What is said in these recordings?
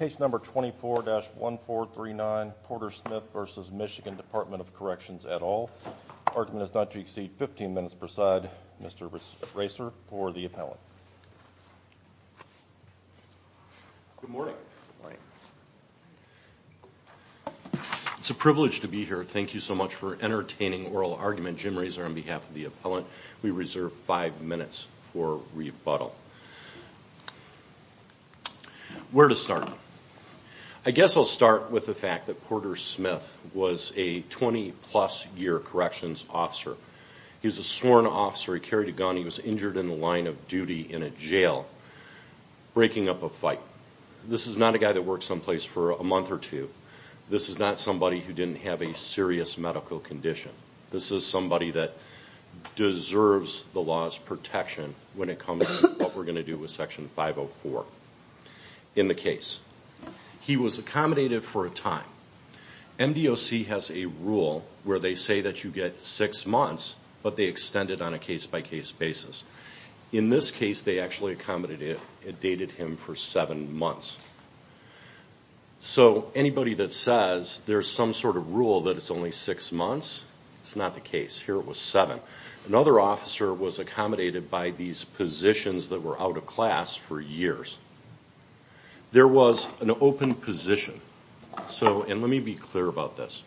Case number 24-1439, Porter Smith v. Michigan Department of Corrections et al. Argument is not to exceed 15 minutes per side. Mr. Racer for the appellant. Good morning. It's a privilege to be here. Thank you so much for entertaining oral argument. Jim Racer on behalf of the appellant. We reserve five minutes for rebuttal. Where to start? I guess I'll start with the fact that Porter Smith was a 20-plus year corrections officer. He was a sworn officer. He carried a gun. He was injured in the line of duty in a jail, breaking up a fight. This is not a guy that worked someplace for a month or two. This is not somebody who didn't have a serious medical condition. This is somebody that deserves the law's protection when it comes to what we're going to do with Section 504 in the case. He was accommodated for a time. MDOC has a rule where they say that you get six months, but they extend it on a case-by-case basis. In this case, they actually accommodated and dated him for seven months. So anybody that says there's some sort of rule that it's only six months, it's not the case. Here it was seven. Another officer was accommodated by these positions that were out of class for years. There was an open position. And let me be clear about this.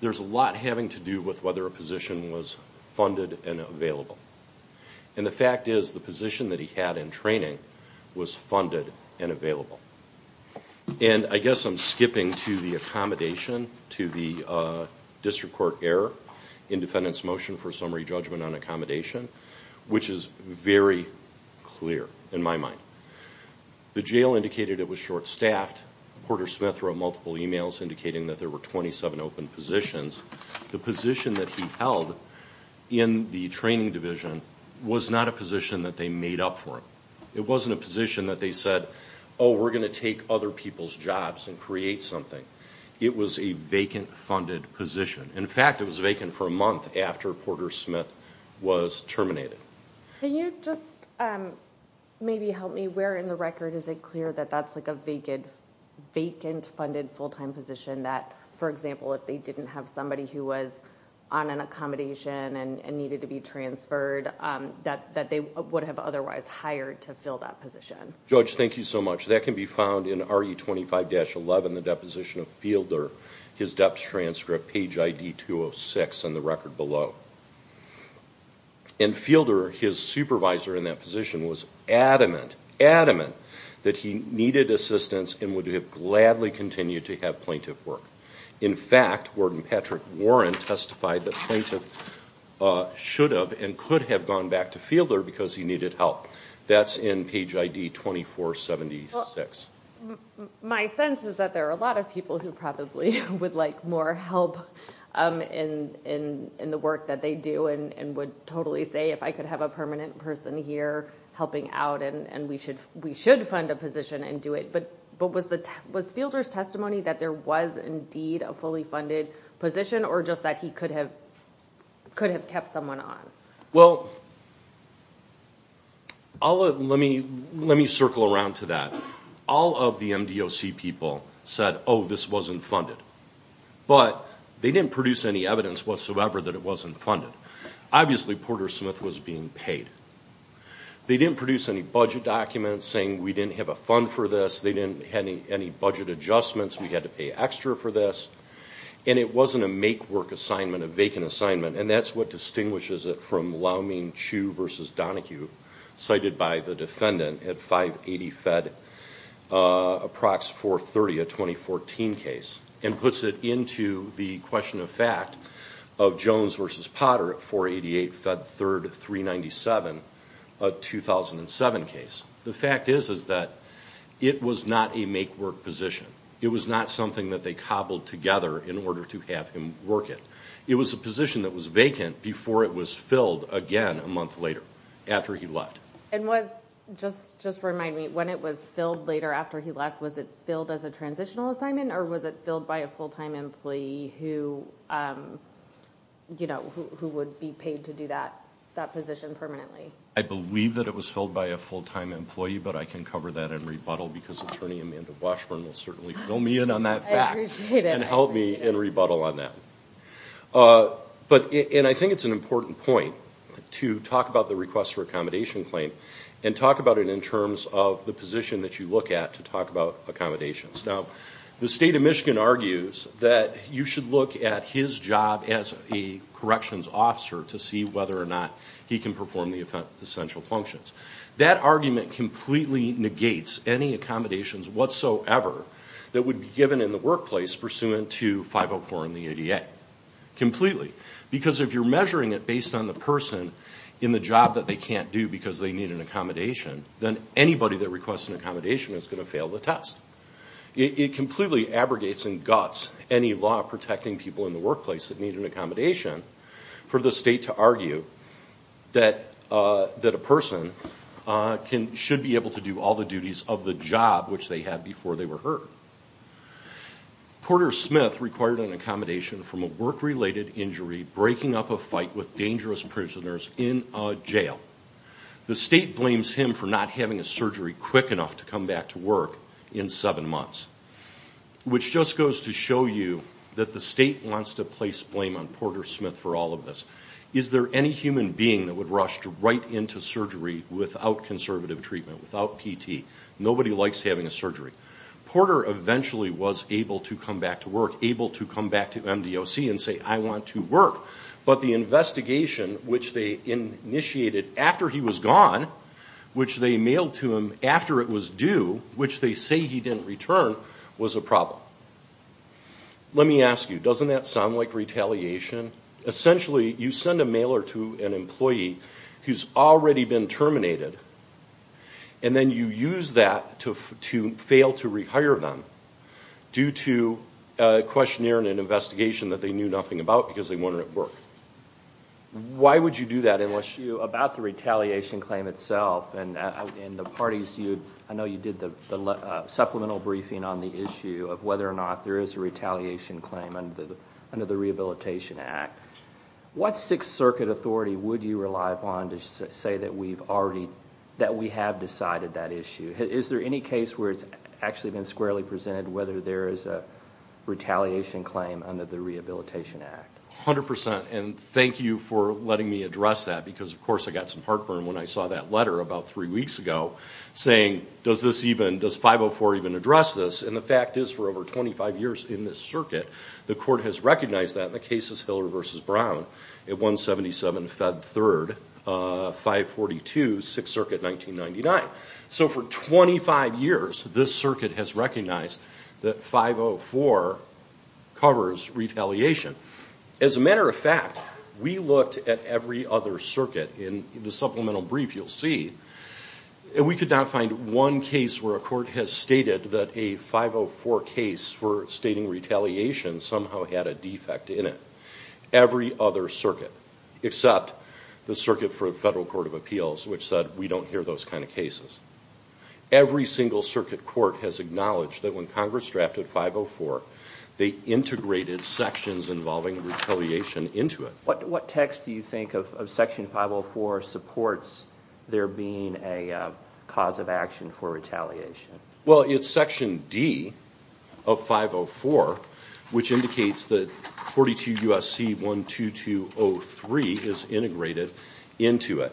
There's a lot having to do with whether a position was funded and available. And the fact is the position that he had in training was funded and available. And I guess I'm skipping to the accommodation, to the district court error in defendant's motion for summary judgment on accommodation, which is very clear in my mind. The jail indicated it was short-staffed. Porter Smith wrote multiple emails indicating that there were 27 open positions. The position that he held in the training division was not a position that they made up for him. It wasn't a position that they said, oh, we're going to take other people's jobs and create something. It was a vacant funded position. In fact, it was vacant for a month after Porter Smith was terminated. Can you just maybe help me? Where in the record is it clear that that's like a vacant funded full-time position that, for example, if they didn't have somebody who was on an accommodation and needed to be transferred, that they would have otherwise hired to fill that position? Judge, thank you so much. That can be found in RE25-11, the deposition of Fielder, his deps transcript, page ID 206 in the record below. And Fielder, his supervisor in that position, was adamant, adamant that he needed assistance and would have gladly continued to have plaintiff work. In fact, Warden Patrick Warren testified that plaintiff should have and could have gone back to Fielder because he needed help. That's in page ID 2476. My sense is that there are a lot of people who probably would like more help in the work that they do and would totally say, if I could have a permanent person here helping out, and we should fund a position and do it. But was Fielder's testimony that there was indeed a fully funded position or just that he could have kept someone on? Well, let me circle around to that. All of the MDOC people said, oh, this wasn't funded. But they didn't produce any evidence whatsoever that it wasn't funded. Obviously, Porter Smith was being paid. They didn't produce any budget documents saying, we didn't have a fund for this. They didn't have any budget adjustments. We had to pay extra for this. And it wasn't a make-work assignment, a vacant assignment. And that's what distinguishes it from Laumin Chiu v. Donahue, cited by the defendant at 580 Fed Approx 430, a 2014 case, and puts it into the question of fact of Jones v. Potter at 488 Fed 3rd 397, a 2007 case. The fact is that it was not a make-work position. It was not something that they cobbled together in order to have him work it. It was a position that was vacant before it was filled again a month later after he left. And just remind me, when it was filled later after he left, was it filled as a transitional assignment, or was it filled by a full-time employee who would be paid to do that position permanently? I believe that it was filled by a full-time employee, but I can cover that in rebuttal because Attorney Amanda Washburn will certainly fill me in on that fact. I appreciate it. And help me in rebuttal on that. And I think it's an important point to talk about the request for accommodation claim and talk about it in terms of the position that you look at to talk about accommodations. Now, the State of Michigan argues that you should look at his job as a corrections officer to see whether or not he can perform the essential functions. That argument completely negates any accommodations whatsoever that would be given in the workplace pursuant to 504 and the ADA, completely. Because if you're measuring it based on the person in the job that they can't do because they need an accommodation, then anybody that requests an accommodation is going to fail the test. It completely abrogates and guts any law protecting people in the workplace that need an accommodation for the state to argue that a person should be able to do all the duties of the job which they had before they were hurt. Porter Smith required an accommodation from a work-related injury breaking up a fight with dangerous prisoners in a jail. The state blames him for not having a surgery quick enough to come back to work in seven months. Which just goes to show you that the state wants to place blame on Porter Smith for all of this. Is there any human being that would rush right into surgery without conservative treatment, without PT? Nobody likes having a surgery. Porter eventually was able to come back to work, able to come back to MDOC and say, I want to work, but the investigation which they initiated after he was gone, which they mailed to him after it was due, which they say he didn't return, was a problem. Let me ask you, doesn't that sound like retaliation? Essentially, you send a mailer to an employee who's already been terminated and then you use that to fail to rehire them due to a questionnaire and an investigation that they knew nothing about because they wanted to work. Why would you do that? About the retaliation claim itself and the parties, I know you did the supplemental briefing on the issue of whether or not there is a retaliation claim under the Rehabilitation Act. What Sixth Circuit authority would you rely upon to say that we have decided that issue? Is there any case where it's actually been squarely presented whether there is a retaliation claim under the Rehabilitation Act? A hundred percent, and thank you for letting me address that because, of course, I got some heartburn when I saw that letter about three weeks ago saying, does 504 even address this? And the fact is, for over 25 years in this circuit, the court has recognized that, and the case is Hiller v. Brown at 177 Fed 3rd, 542, Sixth Circuit, 1999. So for 25 years, this circuit has recognized that 504 covers retaliation. As a matter of fact, we looked at every other circuit in the supplemental brief you'll see, and we could not find one case where a court has stated that a 504 case for stating retaliation somehow had a defect in it. Every other circuit, except the Circuit for the Federal Court of Appeals, which said we don't hear those kind of cases. Every single circuit court has acknowledged that when Congress drafted 504, they integrated sections involving retaliation into it. What text do you think of Section 504 supports there being a cause of action for retaliation? Well, it's Section D of 504, which indicates that 42 U.S.C. 12203 is integrated into it,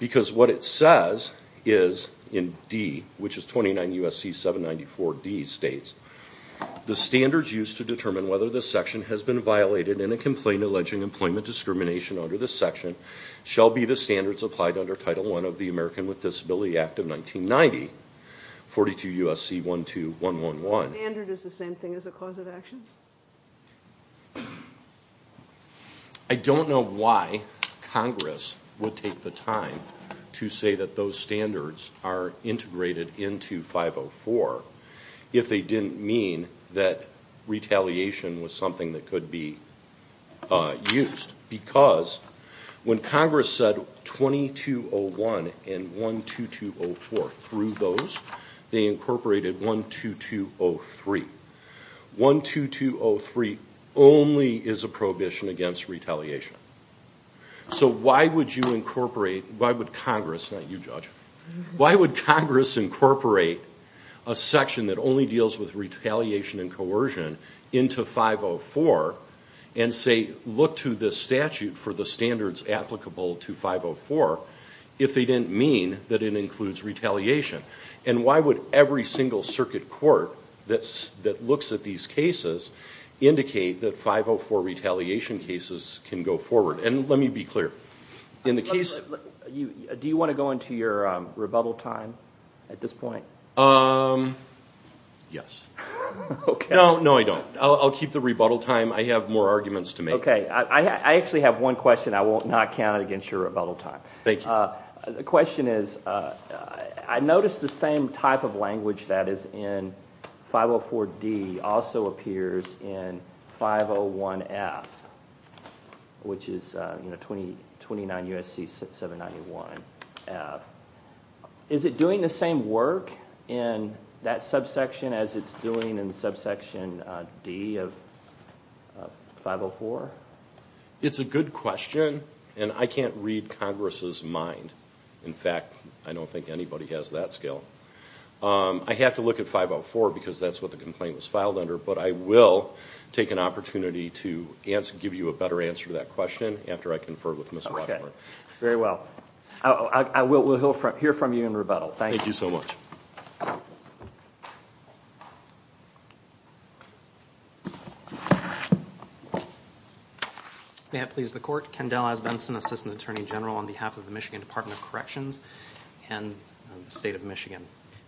because what it says is in D, which is 29 U.S.C. 794D states, the standards used to determine whether this section has been violated in a complaint alleging employment discrimination under this section shall be the standards applied under Title I of the American with Disability Act of 1990, 42 U.S.C. 12111. The standard is the same thing as a cause of action? I don't know why Congress would take the time to say that those standards are integrated into 504 if they didn't mean that retaliation was something that could be used. Because when Congress said 2201 and 12204, through those, they incorporated 12203. 12203 only is a prohibition against retaliation. So why would Congress incorporate a section that only deals with retaliation and coercion into 504 and say, look to this statute for the standards applicable to 504, if they didn't mean that it includes retaliation? And why would every single circuit court that looks at these cases indicate that 504 retaliation cases can go forward? And let me be clear. Do you want to go into your rebuttal time at this point? Yes. No, I don't. I'll keep the rebuttal time. I have more arguments to make. I actually have one question. I will not count it against your rebuttal time. Thank you. The question is, I noticed the same type of language that is in 504D also appears in 501F, which is 29 U.S.C. 791F. Is it doing the same work in that subsection as it's doing in subsection D of 504? It's a good question, and I can't read Congress's mind. In fact, I don't think anybody has that skill. I have to look at 504 because that's what the complaint was filed under, but I will take an opportunity to give you a better answer to that question after I confer with Ms. Washburn. Very well. We'll hear from you in rebuttal. Thank you. Thank you so much. May it please the Court. Ken Delaz Benson, Assistant Attorney General on behalf of the Michigan Department of Corrections and the State of Michigan.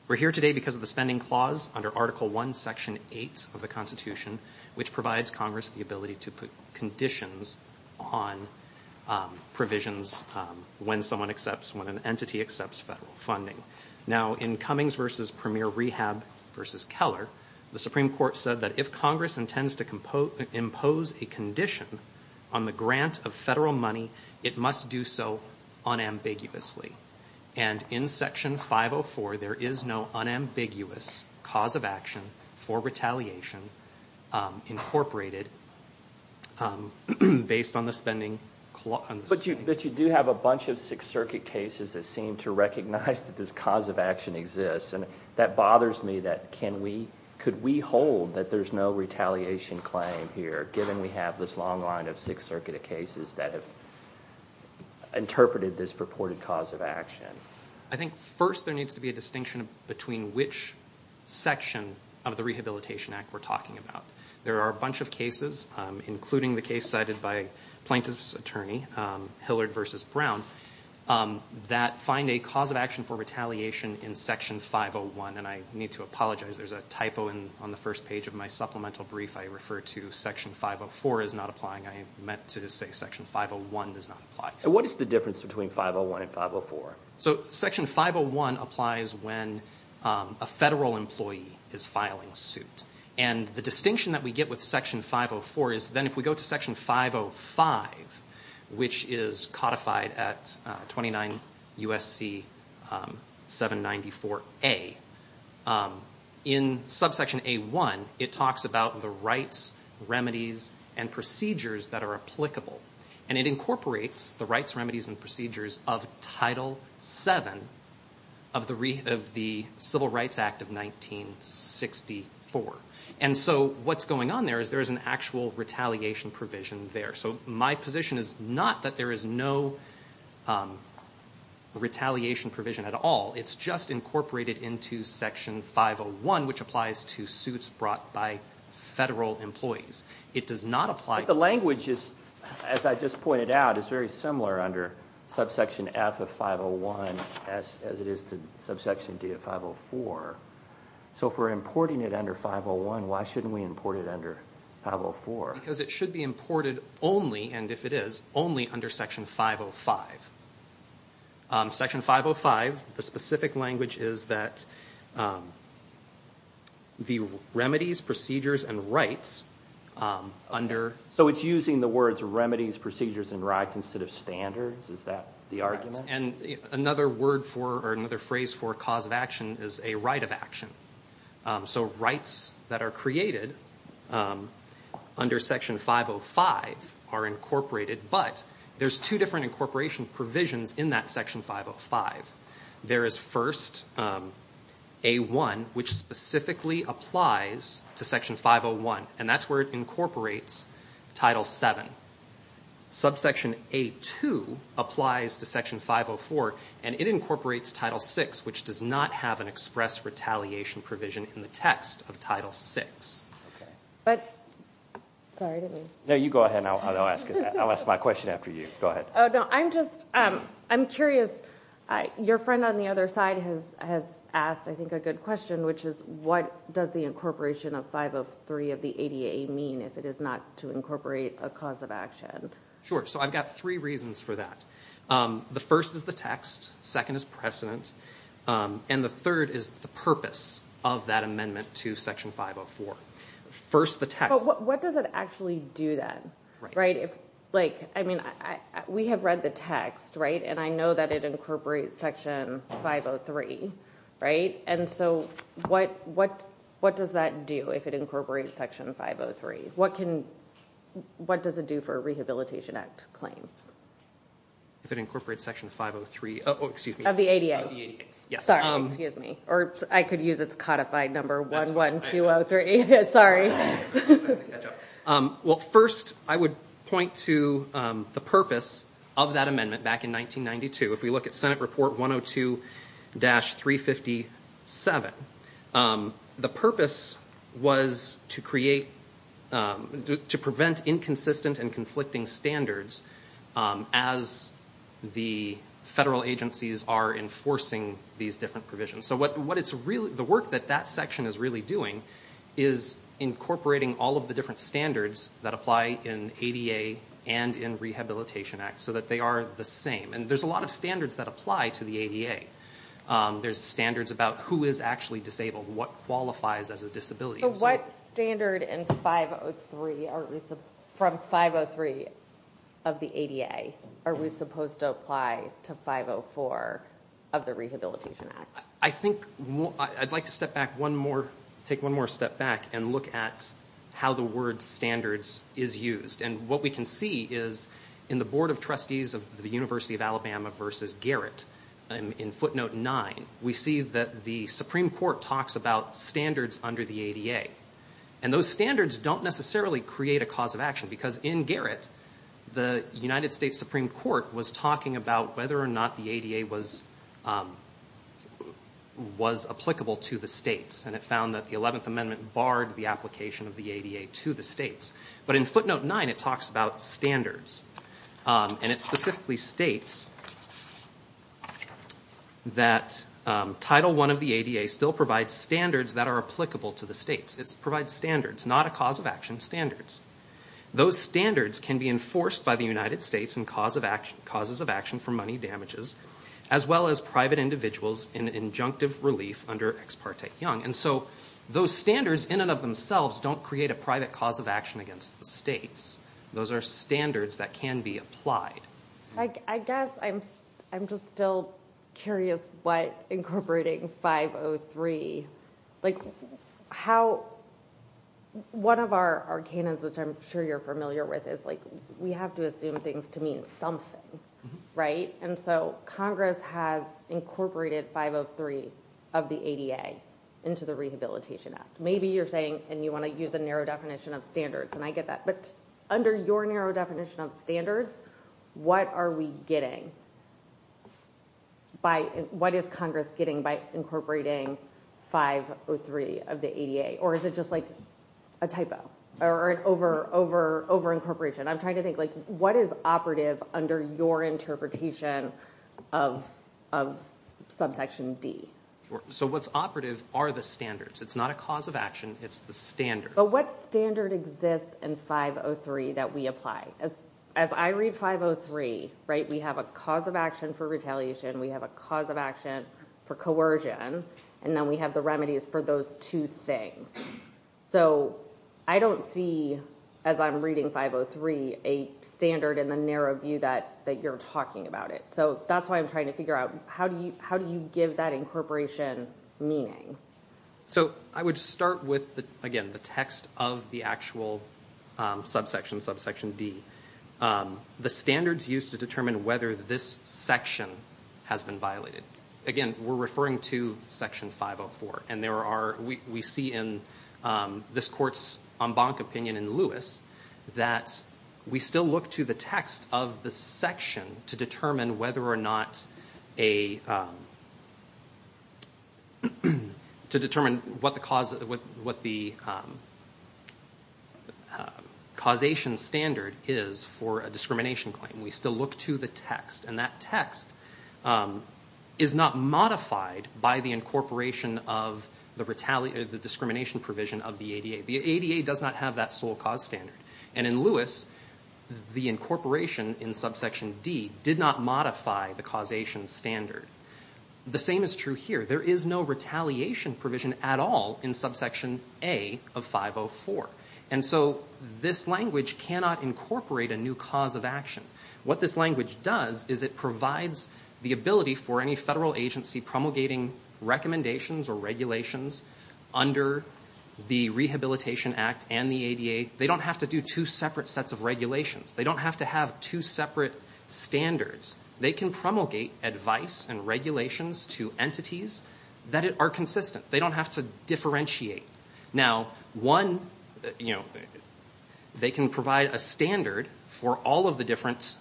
We're here today because of the spending clause under Article I, Section 8 of the Constitution, which provides Congress the ability to put conditions on provisions when someone accepts, when an entity accepts federal funding. Now, in Cummings v. Premier Rehab v. Keller, the Supreme Court said that if Congress intends to impose a condition on the grant of federal money, it must do so unambiguously. And in Section 504, there is no unambiguous cause of action for retaliation incorporated based on the spending clause. But you do have a bunch of Sixth Circuit cases that seem to recognize that this cause of action exists, and that bothers me that can we, could we hold that there's no retaliation claim here, given we have this long line of Sixth Circuit cases that have interpreted this purported cause of action? I think first there needs to be a distinction between which section of the Rehabilitation Act we're talking about. There are a bunch of cases, including the case cited by Plaintiff's Attorney, Hillard v. Brown, that find a cause of action for retaliation in Section 501. And I need to apologize, there's a typo on the first page of my supplemental brief. I refer to Section 504 as not applying. I meant to say Section 501 does not apply. And what is the difference between 501 and 504? So Section 501 applies when a federal employee is filing a suit. And the distinction that we get with Section 504 is then if we go to Section 505, which is codified at 29 U.S.C. 794A, in subsection A1 it talks about the rights, remedies, and procedures that are applicable. And it incorporates the rights, remedies, and procedures of Title VII of the Civil Rights Act of 1964. And so what's going on there is there is an actual retaliation provision there. So my position is not that there is no retaliation provision at all. It's just incorporated into Section 501, which applies to suits brought by federal employees. But the language, as I just pointed out, is very similar under subsection F of 501 as it is to subsection D of 504. So if we're importing it under 501, why shouldn't we import it under 504? Because it should be imported only, and if it is, only under Section 505. Section 505, the specific language is that the remedies, procedures, and rights under... So it's using the words remedies, procedures, and rights instead of standards? Is that the argument? And another phrase for cause of action is a right of action. So rights that are created under Section 505 are incorporated, but there's two different incorporation provisions in that Section 505. There is first A1, which specifically applies to Section 501, and that's where it incorporates Title VII. Subsection A2 applies to Section 504, and it incorporates Title VI, which does not have an express retaliation provision in the text of Title VI. Sorry, didn't mean to... No, you go ahead, and I'll ask my question after you. Go ahead. Oh, no. I'm just... I'm curious. Your friend on the other side has asked, I think, a good question, which is what does the incorporation of 503 of the ADA mean if it is not to incorporate a cause of action? Sure. So I've got three reasons for that. The first is the text. Second is precedent. And the third is the purpose of that amendment to Section 504. First, the text... But what does it actually do then? Right. Like, I mean, we have read the text, right? And I know that it incorporates Section 503, right? And so what does that do if it incorporates Section 503? What can... What does it do for a Rehabilitation Act claim? If it incorporates Section 503... Oh, excuse me. Of the ADA. Of the ADA, yes. Sorry. Excuse me. Or I could use its codified number, 11203. Well, first, I would point to the purpose of that amendment back in 1992. If we look at Senate Report 102-357, the purpose was to create... to prevent inconsistent and conflicting standards as the federal agencies are enforcing these different provisions. So what it's really... The work that that section is really doing is incorporating all of the different standards that apply in ADA and in Rehabilitation Act so that they are the same. And there's a lot of standards that apply to the ADA. There's standards about who is actually disabled, what qualifies as a disability. So what standard in 503... From 503 of the ADA are we supposed to apply to 504 of the Rehabilitation Act? I think... I'd like to step back one more... Take one more step back and look at how the word standards is used. And what we can see is in the Board of Trustees of the University of Alabama versus Garrett, in footnote 9, we see that the Supreme Court talks about standards under the ADA. And those standards don't necessarily create a cause of action because in Garrett, the United States Supreme Court was talking about whether or not the ADA was applicable to the states. And it found that the 11th Amendment barred the application of the ADA to the states. But in footnote 9, it talks about standards. And it specifically states that Title I of the ADA still provides standards that are applicable to the states. It provides standards, not a cause of action standards. Those standards can be enforced by the United States in causes of action for money damages as well as private individuals in injunctive relief under Ex parte Young. And so those standards in and of themselves don't create a private cause of action against the states. Those are standards that can be applied. I guess I'm just still curious what incorporating 503... Like how... One of our canons, which I'm sure you're familiar with, is like we have to assume things to mean something, right? And so Congress has incorporated 503 of the ADA into the Rehabilitation Act. Maybe you're saying, and you want to use a narrow definition of standards, and I get that. But under your narrow definition of standards, what are we getting? What is Congress getting by incorporating 503 of the ADA? Or is it just like a typo or an over-incorporation? I'm trying to think, like, what is operative under your interpretation of subsection D? So what's operative are the standards. It's not a cause of action. It's the standards. But what standard exists in 503 that we apply? As I read 503, right, we have a cause of action for retaliation. We have a cause of action for coercion. And then we have the remedies for those two things. So I don't see, as I'm reading 503, a standard in the narrow view that you're talking about it. So that's why I'm trying to figure out, how do you give that incorporation meaning? So I would start with, again, the text of the actual subsection, subsection D. The standards used to determine whether this section has been violated. Again, we're referring to Section 504. We see in this court's en banc opinion in Lewis that we still look to the text of the section to determine whether or not a to determine what the causation standard is for a discrimination claim. We still look to the text. And that text is not modified by the incorporation of the discrimination provision of the ADA. The ADA does not have that sole cause standard. And in Lewis, the incorporation in subsection D did not modify the causation standard. The same is true here. There is no retaliation provision at all in subsection A of 504. And so this language cannot incorporate a new cause of action. What this language does is it provides the ability for any federal agency promulgating recommendations or regulations under the Rehabilitation Act and the ADA. They don't have to do two separate sets of regulations. They don't have to have two separate standards. They can promulgate advice and regulations to entities that are consistent. They don't have to differentiate. Now, one, they can provide a standard for all of the different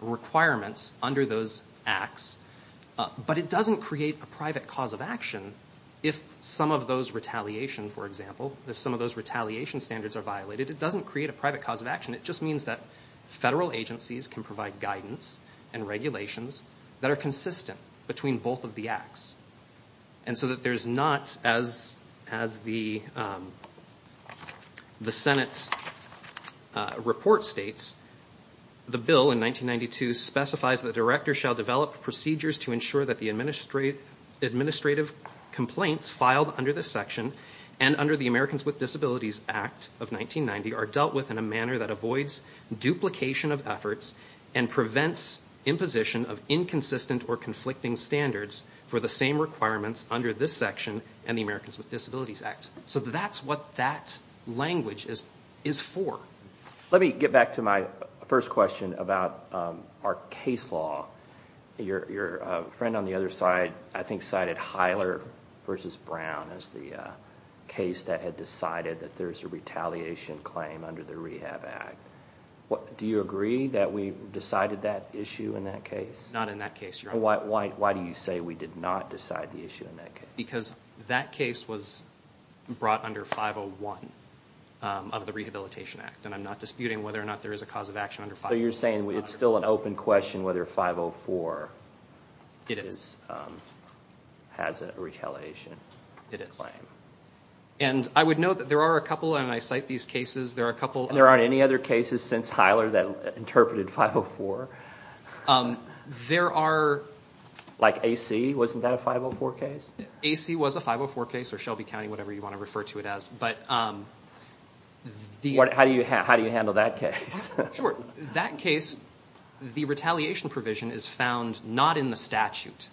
requirements under those acts. But it doesn't create a private cause of action if some of those retaliation, for example, if some of those retaliation standards are violated. It doesn't create a private cause of action. It just means that federal agencies can provide guidance and regulations that are consistent between both of the acts. And so that there's not, as the Senate report states, the bill in 1992 specifies that directors shall develop procedures to ensure that the administrative complaints filed under this section and under the Americans with Disabilities Act of 1990 are dealt with in a manner that avoids duplication of efforts and prevents imposition of inconsistent or conflicting standards for the same requirements under this section and the Americans with Disabilities Act. So that's what that language is for. Let me get back to my first question about our case law. Your friend on the other side, I think, cited Hyler v. Brown as the case that had decided that there's a retaliation claim under the Rehab Act. Do you agree that we decided that issue in that case? Not in that case, Your Honor. Why do you say we did not decide the issue in that case? Because that case was brought under 501 of the Rehabilitation Act, and I'm not disputing whether or not there is a cause of action under 501. So you're saying it's still an open question whether 504 has a retaliation claim? It is. And I would note that there are a couple, and I cite these cases, there are a couple of... There are cases since Hyler that interpreted 504. There are... Like AC, wasn't that a 504 case? AC was a 504 case, or Shelby County, whatever you want to refer to it as. How do you handle that case? Sure. That case, the retaliation provision is found not in the statute,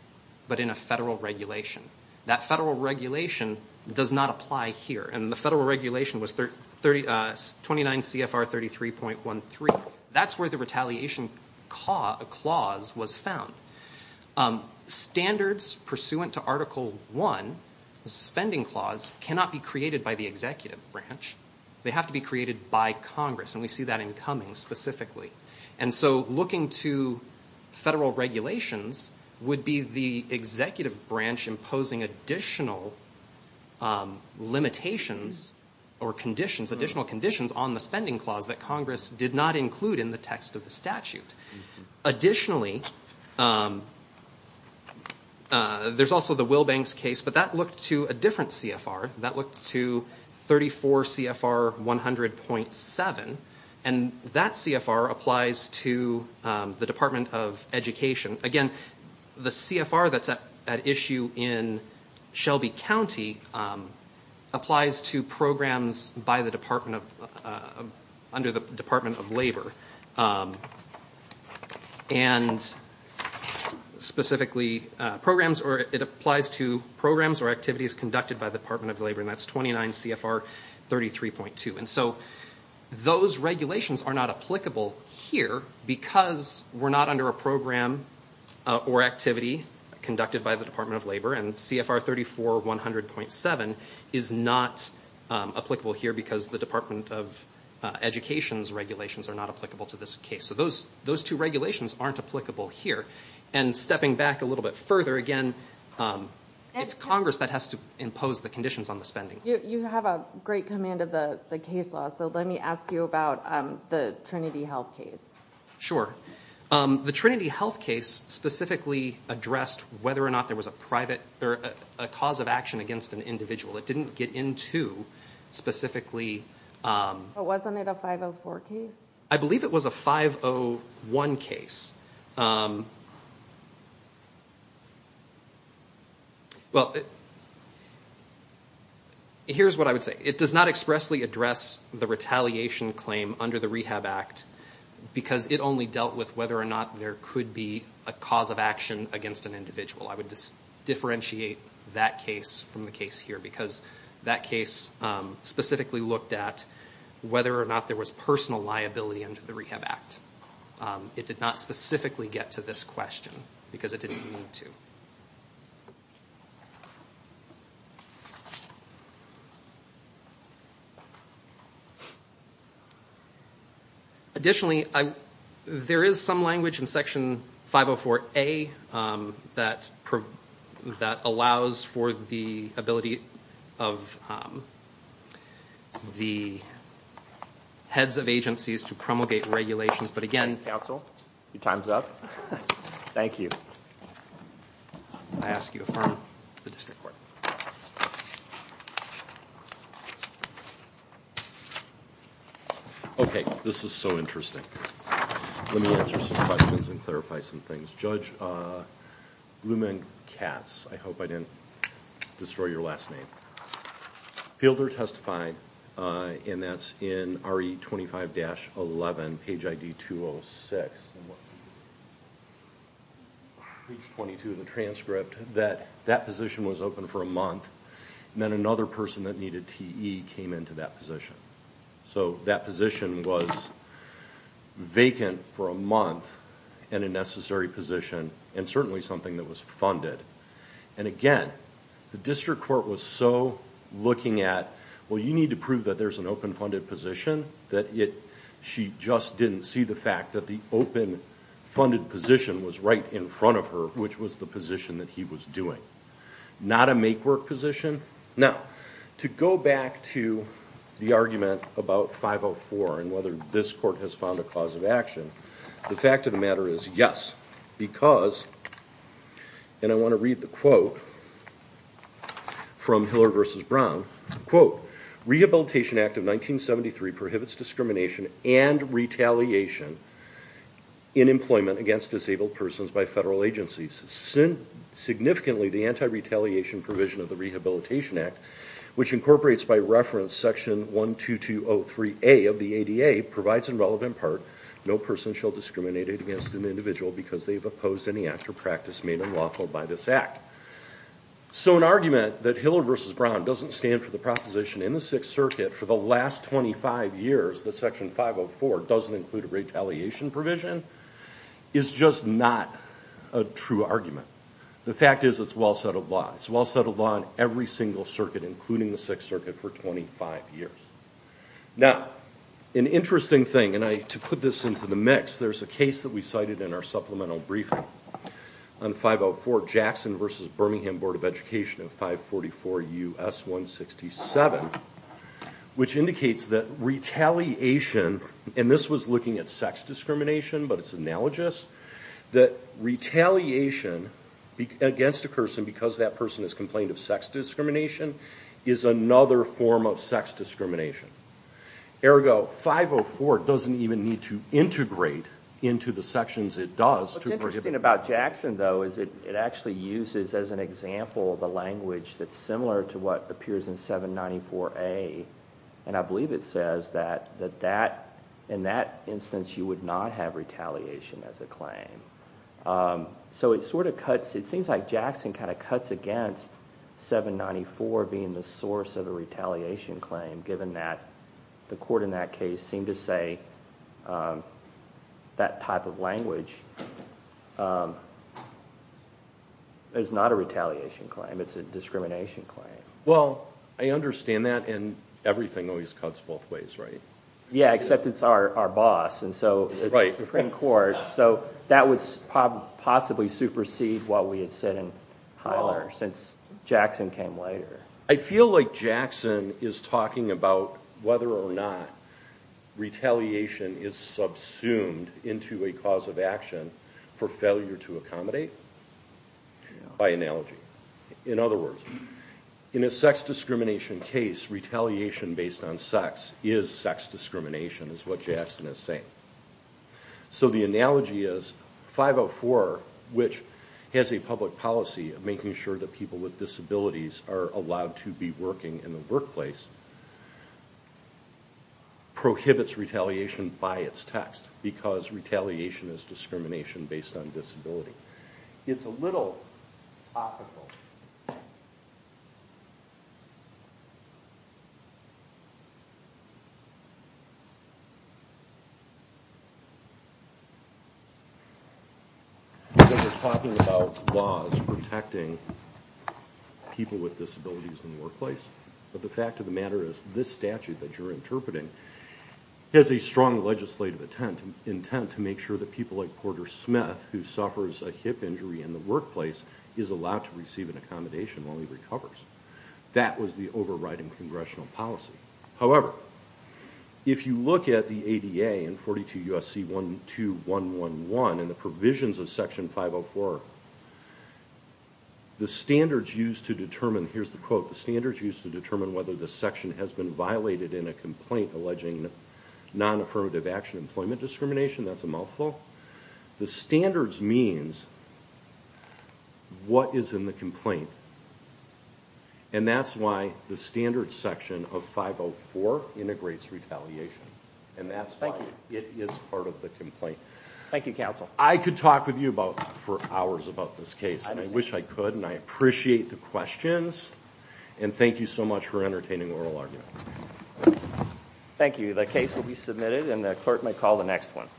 but in a federal regulation. That federal regulation does not apply here. And the federal regulation was 29 CFR 33.13. That's where the retaliation clause was found. Standards pursuant to Article I, the suspending clause, cannot be created by the executive branch. They have to be created by Congress, and we see that in Cummings specifically. And so looking to federal regulations would be the executive branch imposing additional limitations or conditions, additional conditions on the spending clause that Congress did not include in the text of the statute. Additionally, there's also the Wilbanks case, but that looked to a different CFR. That looked to 34 CFR 100.7, and that CFR applies to the Department of Education. Again, the CFR that's at issue in Shelby County applies to programs by the Department of... under the Department of Labor. And specifically programs, or it applies to programs or activities conducted by the Department of Labor, and that's 29 CFR 33.2. And so those regulations are not applicable here because we're not under a program or activity conducted by the Department of Labor, and CFR 34 100.7 is not applicable here because the Department of Education's regulations are not applicable to this case. So those two regulations aren't applicable here. And stepping back a little bit further, again, it's Congress that has to impose the conditions on the spending. You have a great command of the case law, so let me ask you about the Trinity Health case. Sure. The Trinity Health case specifically addressed whether or not there was a private... or a cause of action against an individual. It didn't get into specifically... But wasn't it a 504 case? I believe it was a 501 case. Well, here's what I would say. It does not expressly address the retaliation claim under the Rehab Act because it only dealt with whether or not there could be a cause of action against an individual. I would differentiate that case from the case here because that case specifically looked at whether or not there was personal liability under the Rehab Act. It did not specifically get to this question because it didn't need to. Additionally, there is some language in Section 504A that allows for the ability of the heads of agencies to promulgate regulations. But again... Counsel, your time's up. Thank you. I ask you to affirm the district court. Okay, this is so interesting. Let me answer some questions and clarify some things. Judge Blumenkatz, I hope I didn't destroy your last name, Fielder testified, and that's in RE 25-11, page ID 206, page 22 of the transcript, that that position was open for a month and then another person that needed TE came into that position. So that position was vacant for a month and a necessary position and certainly something that was funded. And again, the district court was so looking at, well, you need to prove that there's an open-funded position, that she just didn't see the fact that the open-funded position was right in front of her, which was the position that he was doing. Not a make-work position. Now, to go back to the argument about 504 and whether this court has found a cause of action, the fact of the matter is yes, because, and I want to read the quote from Hiller v. Brown, quote, Rehabilitation Act of 1973 prohibits discrimination and retaliation in employment against disabled persons by federal agencies. Significantly, the anti-retaliation provision of the Rehabilitation Act, which incorporates by reference section 12203A of the ADA, provides in relevant part, no person shall discriminate against an individual because they've opposed any act or practice made unlawful by this act. So an argument that Hiller v. Brown doesn't stand for the proposition in the Sixth Circuit for the last 25 years that section 504 doesn't include a retaliation provision is just not a true argument. The fact is it's well-settled law. It's well-settled law in every single circuit, including the Sixth Circuit, for 25 years. Now, an interesting thing, and to put this into the mix, there's a case that we cited in our supplemental briefing on 504 Jackson v. Birmingham Board of Education in 544 U.S. 167, which indicates that retaliation, and this was looking at sex discrimination, but it's analogous, that retaliation against a person because that person has complained of sex discrimination is another form of sex discrimination. Ergo, 504 doesn't even need to integrate into the sections it does to prohibit. What's interesting about Jackson, though, is it actually uses as an example the language that's similar to what appears in 794A, and I believe it says that in that instance you would not have retaliation as a claim. So it sort of cuts, it seems like Jackson kind of cuts against 794 being the source of a retaliation claim, given that the court in that case seemed to say that type of language is not a retaliation claim. It's a discrimination claim. Well, I understand that, and everything always cuts both ways, right? Yeah, except it's our boss, and so it's the Supreme Court. So that would possibly supersede what we had said in Highlander since Jackson came later. I feel like Jackson is talking about whether or not retaliation is subsumed into a cause of action for failure to accommodate, by analogy. In other words, in a sex discrimination case, retaliation based on sex is sex discrimination is what Jackson is saying. So the analogy is 504, which has a public policy of making sure that people with disabilities are allowed to be working in the workplace, prohibits retaliation by its text because retaliation is discrimination based on disability. It's a little topical. He's talking about laws protecting people with disabilities in the workplace, but the fact of the matter is this statute that you're interpreting has a strong legislative intent to make sure that people like Porter Smith, who suffers a hip injury in the workplace, is allowed to receive an accommodation while he recovers. That was the overriding congressional policy. However, if you look at the ADA in 42 U.S.C. 12111 and the provisions of Section 504, the standards used to determine, here's the quote, the standards used to determine whether the section has been violated in a complaint alleging non-affirmative action employment discrimination. That's a mouthful. The standards means what is in the complaint, and that's why the standard section of 504 integrates retaliation, and that's why it is part of the complaint. Thank you, counsel. I could talk with you for hours about this case, and I wish I could, and I appreciate the questions. And thank you so much for entertaining oral argument. Thank you. The case will be submitted, and the clerk may call the next one.